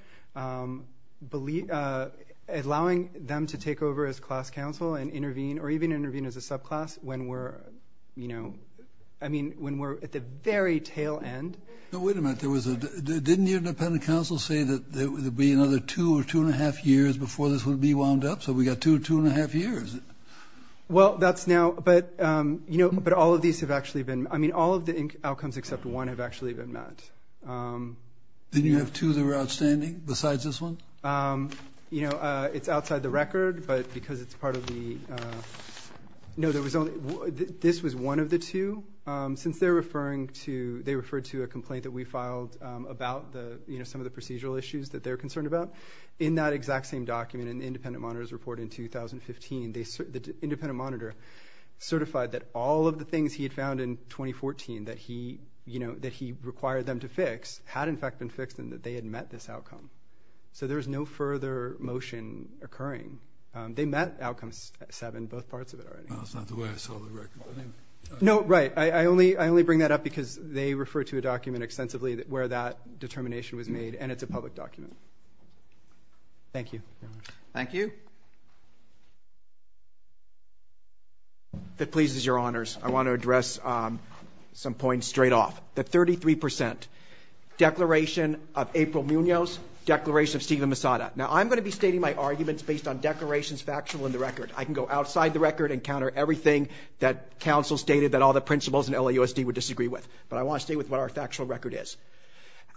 allowing them to take over as class council and intervene or even intervene as a subclass when we're, you know... I mean, when we're at the very tail end... No, wait a minute. Didn't the independent council say that there would be another two or two and a half years before this would be wound up? So we got two, two and a half years. Well, that's now... But, you know, but all of these have actually been... I mean, all of the outcomes except one have actually been met. Then you have two that are outstanding besides this one? You know, it's outside the record, but because it's part of the... No, there was only... This was one of the two. Since they're referring to... They referred to a complaint that we filed about the, you know, some of the procedural issues that they're concerned about, in that exact same document in the independent monitor's report in 2015, the independent monitor certified that all of the things he had found in 2014 that he, you know, that he required them to fix had, in fact, been fixed and that they had met this outcome. So there was no further motion occurring. They met outcome seven, both parts of it already. That's not the way I saw the record. No, right. I only bring that up because they refer to a document extensively where that determination was made, and it's a public document. Thank you. Thank you. If it pleases your honors, I want to address some points straight off. The 33% declaration of April Munoz, declaration of Steven Misada. Now, I'm going to be stating my arguments based on declarations factual in the record. I can go outside the record and counter everything that counsel stated that all the principals in LAUSD would disagree with, but I want to stay with what our factual record is.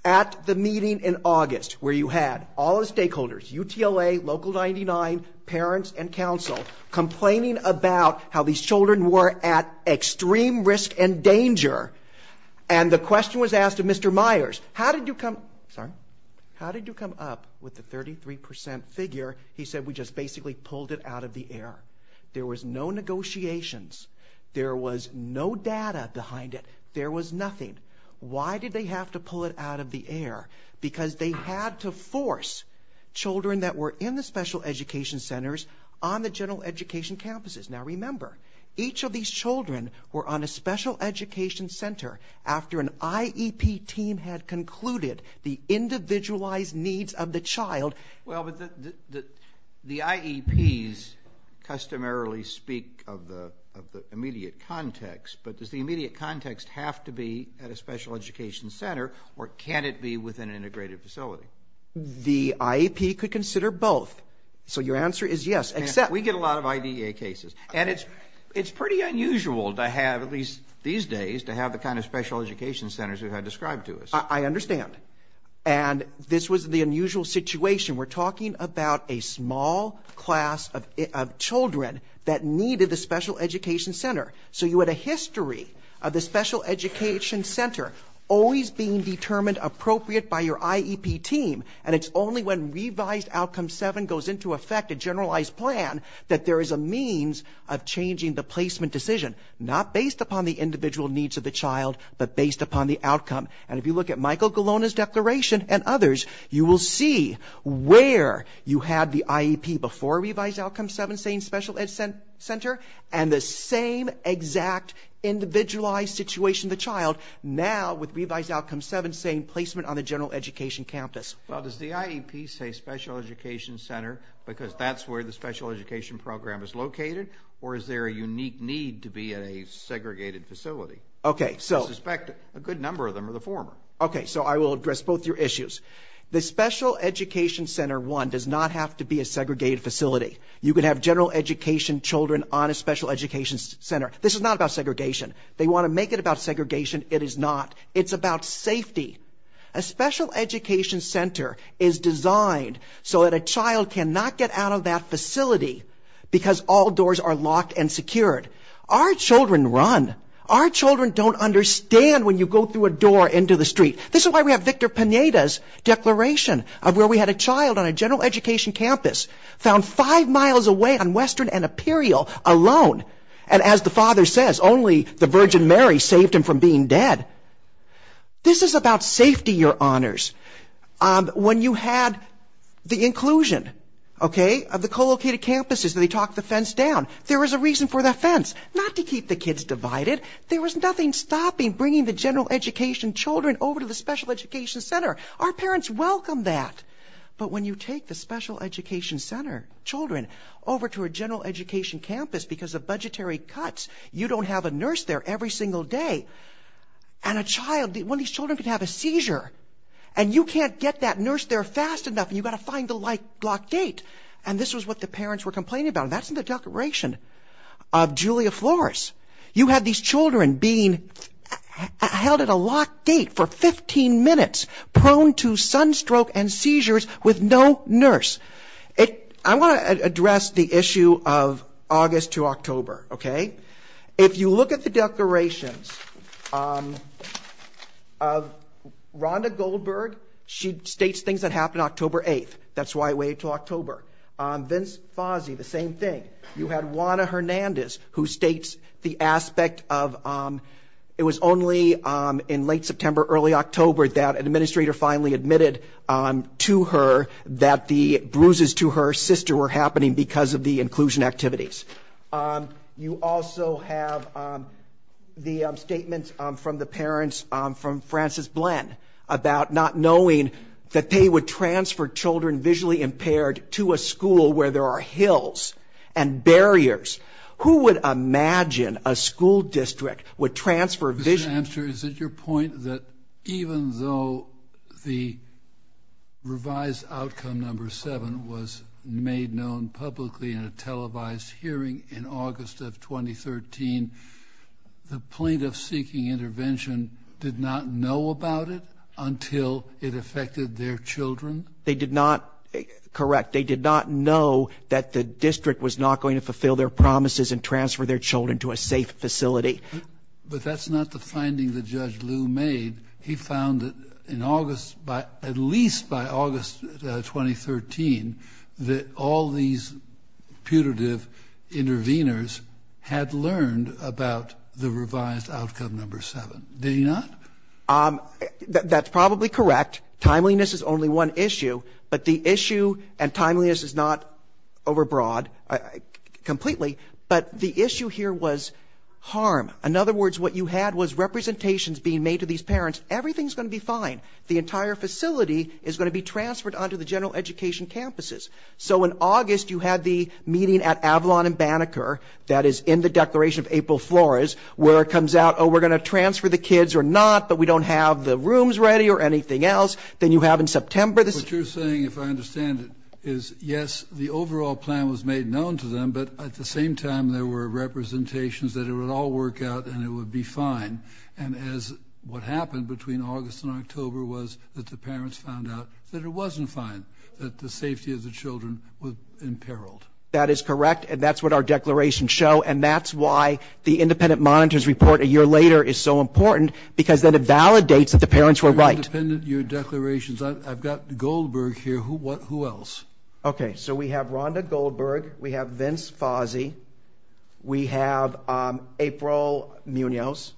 At the meeting in August, where you had all the stakeholders, UTLA, Local 99, parents, and counsel, complaining about how these children were at extreme risk and danger, and the question was asked of Mr. Myers, how did you come up with the 33% figure? He said, we just basically pulled it out of the air. There was no negotiations. There was no data behind it. There was nothing. Why did they have to pull it out of the air? Because they had to force children that were in the special education centers on the general education campuses. Now, remember, each of these children were on a special education center after an IEP team had concluded the individualized needs of the child. Well, but the IEPs customarily speak of the immediate context, but does the immediate context have to be at a special education center, or can it be with an integrated facility? The IEP could consider both. So your answer is yes, except... We get a lot of IDEA cases, and it's pretty unusual to have, at least these days, to have the kind of special education centers we've had described to us. I understand. And this was the unusual situation. We're talking about a small class of children that needed the special education center. So you had a history of the special education center always being determined appropriate by your IEP team, and it's only when Revised Outcome 7 goes into effect, a generalized plan, that there is a means of changing the placement decision, not based upon the individual needs of the child, but based upon the outcome. And if you look at Michael Golona's declaration and others, you will see where you had the IEP before Revised Outcome 7 saying special education center and the same exact individualized situation, the child, now with Revised Outcome 7 saying placement on the general education campus. Well, does the IEP say special education center because that's where the special education program is located, or is there a unique need to be at a segregated facility? Okay, so... I suspect a good number of them are the former. Okay, so I will address both your issues. The special education center, one, does not have to be a segregated facility. You could have general education children on a special education center. This is not about segregation. They want to make it about segregation. It is not. It's about safety. A special education center is designed so that a child cannot get out of that facility because all doors are locked and secured. Our children run. Our children don't understand when you go through a door into the street. This is why we have Victor Pineda's declaration of where we had a child on a general education campus found five miles away on Western and Imperial alone. And as the father says, only the Virgin Mary saved him from being dead. This is about safety, your honors. When you had the inclusion, okay, of the co-located campuses, and they talked the fence down, there was a reason for that fence. Not to keep the kids divided. There was nothing stopping bringing the general education children over to the special education center. Our parents welcome that. But when you take the special education center children over to a general education campus because of budgetary cuts, you don't have a nurse there every single day. And a child, one of these children could have a seizure. And you can't get that nurse there fast enough and you've got to find the locked gate. And this was what the parents were complaining about. And that's in the declaration of Julia Flores. You had these children being held at a locked gate for 15 minutes prone to sunstroke and seizures with no nurse. I want to address the issue of August to October, okay? If you look at the declarations of Rhonda Goldberg, she states things that happened October 8th. That's why I waited until October. Vince Fazi, the same thing. You had Juana Hernandez who states the aspect of it was only in late September, early October that an administrator finally admitted to her that the bruises to her sister were happening because of the inclusion activities. You also have the statements from the parents, from Frances Blen, about not knowing that they would transfer children visually impaired to a school where there are hills and barriers. Who would imagine a school district would transfer vision? Mr. Amster, is it your point that even though the revised outcome number 7 was made known publicly in a televised hearing in August of 2013, the plaintiff seeking intervention did not know about it until it affected their children? They did not, correct, they did not know that the district was not going to fulfill their promises and transfer their children to a safe facility. But that's not the finding that Judge Lew made. He found that in August, at least by August 2013, that all these putative interveners had learned about the revised outcome number 7. Did he not? That's probably correct. Timeliness is only one issue, but the issue, and timeliness is not overbroad completely, but the issue here was harm. In other words, what you had was representations being made to these parents, everything's going to be fine. The entire facility is going to be transferred onto the general education campuses. So in August, you had the meeting at Avalon and Banneker that is in the Declaration of April Flores, where it comes out, oh, we're going to transfer the kids or not, but we don't have the rooms ready or anything else. Then you have in September. What you're saying, if I understand it, is yes, the overall plan was made known to them, but at the same time there were representations that it would all work out and it would be fine. And as what happened between August and October was that the parents found out that it wasn't fine, that the safety of the children was imperiled. That is correct, and that's what our declarations show, and that's why the independent monitors report a year later is so important, because then it validates that the parents were right. Your declarations, I've got Goldberg here. Who else? Okay, so we have Rhonda Goldberg. We have Vince Fozzi. We have April Munoz.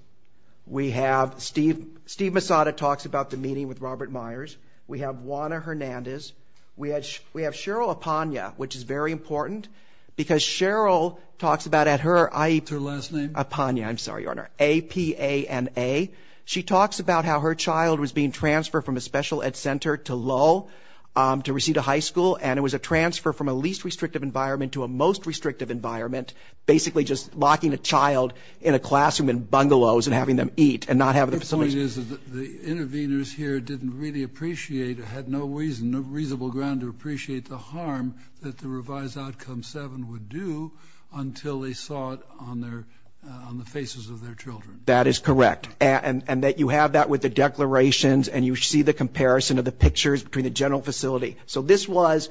We have Steve Massada talks about the meeting with Robert Myers. We have Juana Hernandez. We have Cheryl Apana, which is very important, because Cheryl talks about at her... That's her last name. Apana, I'm sorry, Your Honor, A-P-A-N-A. She talks about how her child was being transferred from a special ed center to Lowell to receive a high school, and it was a transfer from a least restrictive environment to a most restrictive environment, basically just locking a child in a classroom in bungalows and having them eat and not have the facilities... Your point is that the interveners here didn't really appreciate or had no reasonable ground to appreciate the harm that the revised outcome 7 would do until they saw it on the faces of their children. That is correct, and that you have that with the declarations and you see the comparison of the pictures between the general facility. So this was...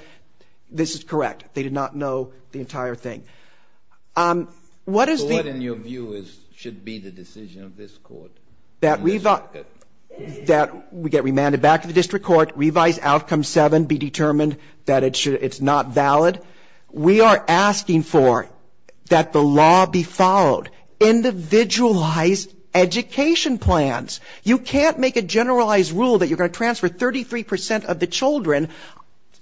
this is correct. They did not know the entire thing. So what, in your view, should be the decision of this Court? That we get remanded back to the district court, revise outcome 7, be determined that it's not valid. We are asking for that the law be followed. Individualized education plans. You can't make a generalized rule that you're going to transfer 33% of the children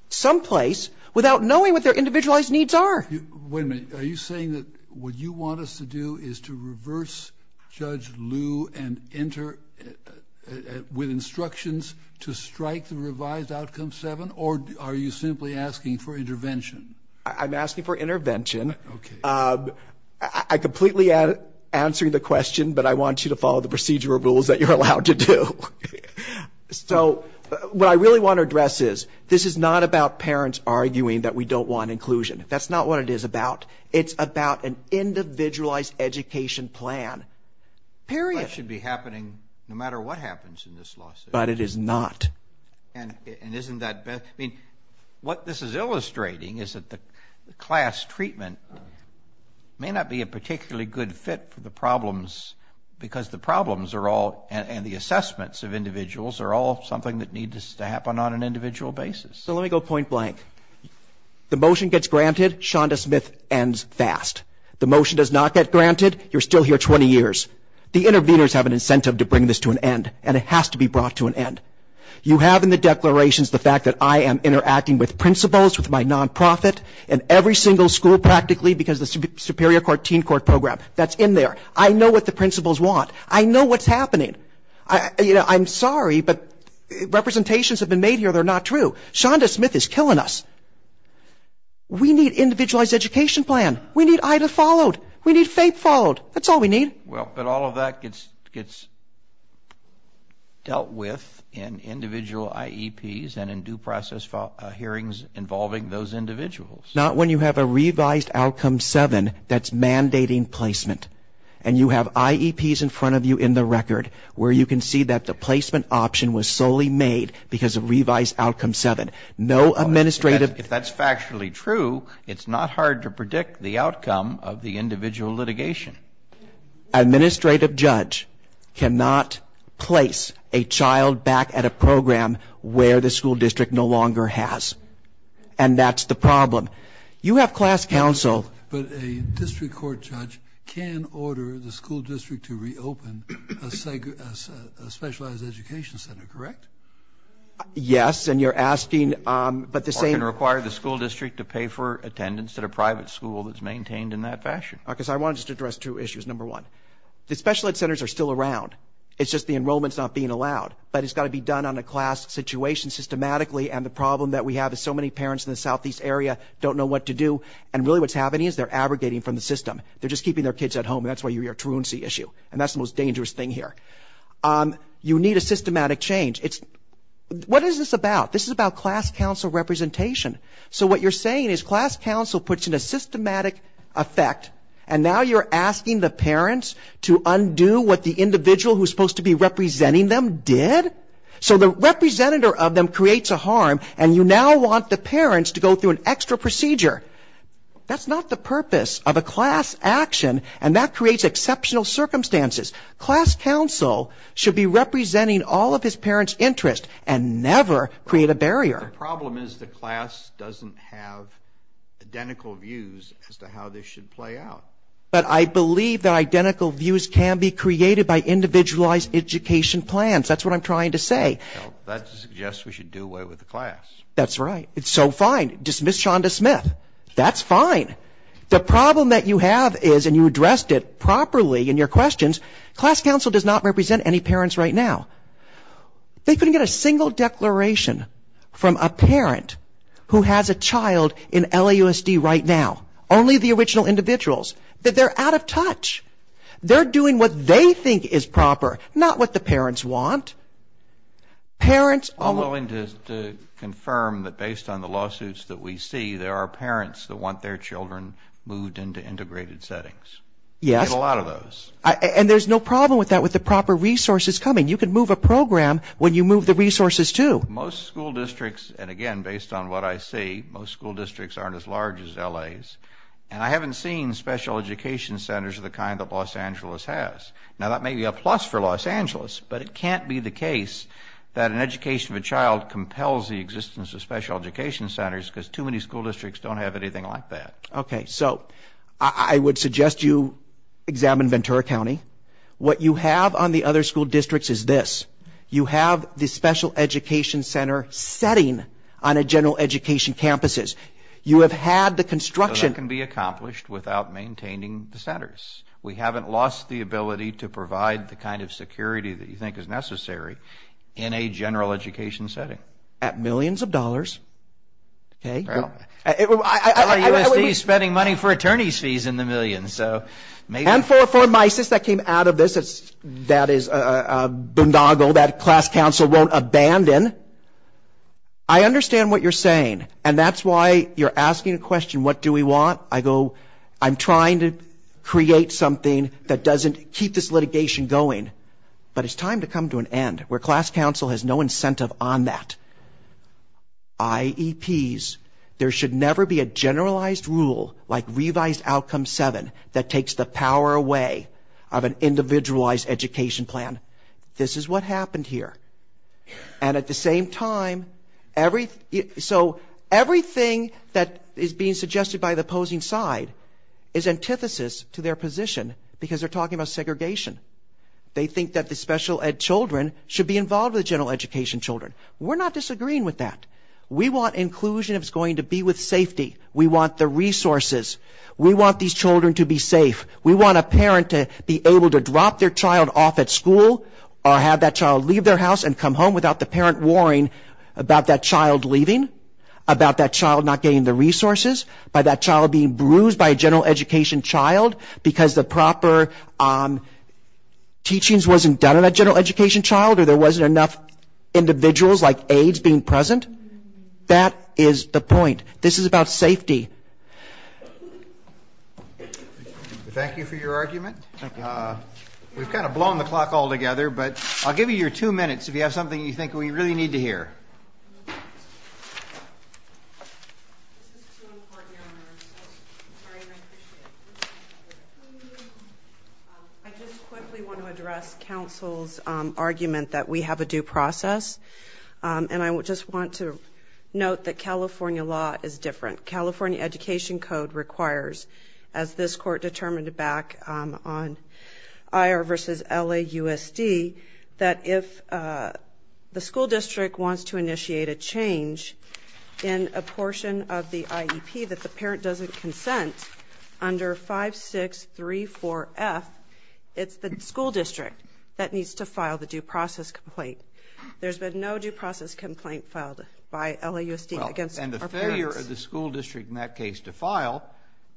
someplace without knowing what their individualized needs are. Wait a minute. Are you saying that what you want us to do is to reverse Judge Liu and enter with instructions to strike the revised outcome 7, or are you simply asking for intervention? I'm asking for intervention. I'm completely answering the question, but I want you to follow the procedural rules that you're allowed to do. So what I really want to address is this is not about parents arguing that we don't want inclusion. That's not what it is about. It's about an individualized education plan. Period. That should be happening no matter what happens in this lawsuit. But it is not. And isn't that best? I mean, what this is illustrating is that the class treatment may not be a particularly good fit for the problems because the problems are all, and the assessments of individuals are all something that needs to happen on an individual basis. So let me go point blank. The motion gets granted. Shonda Smith ends fast. The motion does not get granted. You're still here 20 years. The interveners have an incentive to bring this to an end, and it has to be brought to an end. You have in the declarations the fact that I am interacting with principals, with my nonprofit, in every single school practically because of the Superior Court Teen Court program. That's in there. I know what the principals want. I know what's happening. I'm sorry, but representations have been made here that are not true. Shonda Smith is killing us. We need individualized education plan. We need IDA followed. We need FAPE followed. That's all we need. Well, but all of that gets dealt with in individual IEPs and in due process hearings involving those individuals. Not when you have a revised outcome 7 that's mandating placement, and you have IEPs in front of you in the record where you can see that the placement option was solely made because of revised outcome 7. If that's factually true, it's not hard to predict the outcome of the individual litigation. Administrative judge cannot place a child back at a program where the school district no longer has, and that's the problem. You have class counsel. But a district court judge can order the school district to reopen a specialized education center, correct? Yes, and you're asking, but the same. Or can require the school district to pay for attendance at a private school that's maintained in that fashion. Because I want to just address two issues, number one. The special ed centers are still around. It's just the enrollment's not being allowed, but it's got to be done on a class situation systematically, and the problem that we have is so many parents in the southeast area don't know what to do, and really what's happening is they're abrogating from the system. They're just keeping their kids at home, and that's why you hear a truancy issue, and that's the most dangerous thing here. You need a systematic change. What is this about? This is about class counsel representation. So what you're saying is class counsel puts in a systematic effect, and now you're asking the parents to undo what the individual who's supposed to be representing them did? So the representative of them creates a harm, and you now want the parents to go through an extra procedure. That's not the purpose of a class action, and that creates exceptional circumstances. Class counsel should be representing all of his parents' interests and never create a barrier. The problem is the class doesn't have identical views as to how this should play out. But I believe that identical views can be created by individualized education plans. That's what I'm trying to say. Well, that suggests we should do away with the class. That's right. It's so fine. Dismiss Shonda Smith. That's fine. The problem that you have is, and you addressed it properly in your questions, class counsel does not represent any parents right now. They couldn't get a single declaration from a parent who has a child in LAUSD right now, only the original individuals, that they're out of touch. They're doing what they think is proper, not what the parents want. Parents are willing to confirm that based on the lawsuits that we see, there are parents that want their children moved into integrated settings. Yes. We get a lot of those. And there's no problem with that with the proper resources coming. You can move a program when you move the resources, too. Most school districts, and again, based on what I see, most school districts aren't as large as L.A.'s. And I haven't seen special education centers of the kind that Los Angeles has. Now, that may be a plus for Los Angeles, but it can't be the case that an education of a child compels the existence of special education centers because too many school districts don't have anything like that. Okay. So I would suggest you examine Ventura County. What you have on the other school districts is this. You have the special education center setting on a general education campuses. You have had the construction. That can be accomplished without maintaining the centers. We haven't lost the ability to provide the kind of security that you think is necessary in a general education setting. At millions of dollars, okay. L.A. USD is spending money for attorney's fees in the millions. And for MISES that came out of this, that is a boondoggle that class council won't abandon. I understand what you're saying, and that's why you're asking a question, what do we want? I go, I'm trying to create something that doesn't keep this litigation going. But it's time to come to an end where class council has no incentive on that. IEPs, there should never be a generalized rule like revised outcome seven that takes the power away of an individualized education plan. This is what happened here. And at the same time, so everything that is being suggested by the opposing side is antithesis to their position because they're talking about segregation. They think that the special ed children should be involved with general education children. We're not disagreeing with that. We want inclusion that's going to be with safety. We want the resources. We want these children to be safe. We want a parent to be able to drop their child off at school or have that child leave their house and come home without the parent worrying about that child leaving, about that child not getting the resources, about that child being bruised by a general education child because the proper teachings wasn't done in that general education child or there wasn't enough individuals like aides being present. That is the point. This is about safety. Thank you for your argument. We've kind of blown the clock altogether, but I'll give you your two minutes if you have something you think we really need to hear. I just quickly want to address counsel's argument that we have a due process, and I just want to note that California law is different. California Education Code requires, as this court determined back on IR versus LAUSD, that if the school district wants to initiate a change in a portion of the IEP that the parent doesn't consent under 5634F, it's the school district that needs to file the due process complaint. There's been no due process complaint filed by LAUSD against our parents. And the failure of the school district in that case to file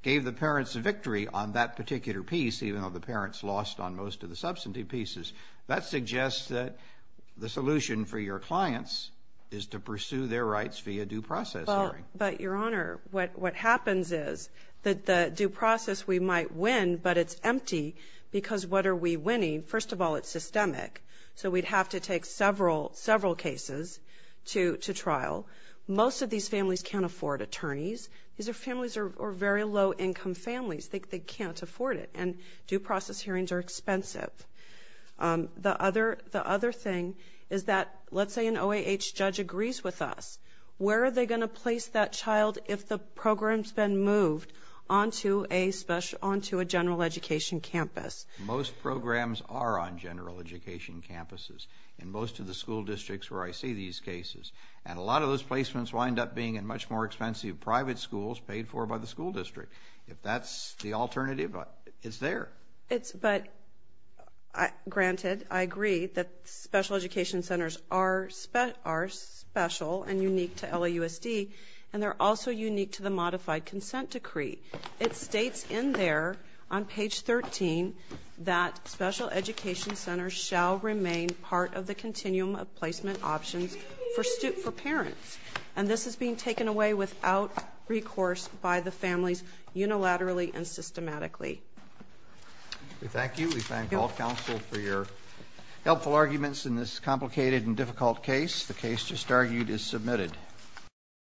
gave the parents a victory on that particular piece, even though the parents lost on most of the substantive pieces. That suggests that the solution for your clients is to pursue their rights via due process hearing. But, Your Honor, what happens is that the due process we might win, but it's empty because what are we winning? First of all, it's systemic, so we'd have to take several cases to trial. Most of these families can't afford attorneys. These are families who are very low-income families. They can't afford it, and due process hearings are expensive. The other thing is that let's say an OAH judge agrees with us. Where are they going to place that child if the program's been moved onto a general education campus? Most programs are on general education campuses in most of the school districts where I see these cases. And a lot of those placements wind up being in much more expensive private schools paid for by the school district. If that's the alternative, it's there. But, granted, I agree that special education centers are special and unique to LAUSD, and they're also unique to the modified consent decree. It states in there on page 13 that special education centers shall remain part of the continuum of placement options for parents, and this is being taken away without recourse by the families unilaterally and systematically. Thank you. We thank all counsel for your helpful arguments in this complicated and difficult case. The case just argued is submitted.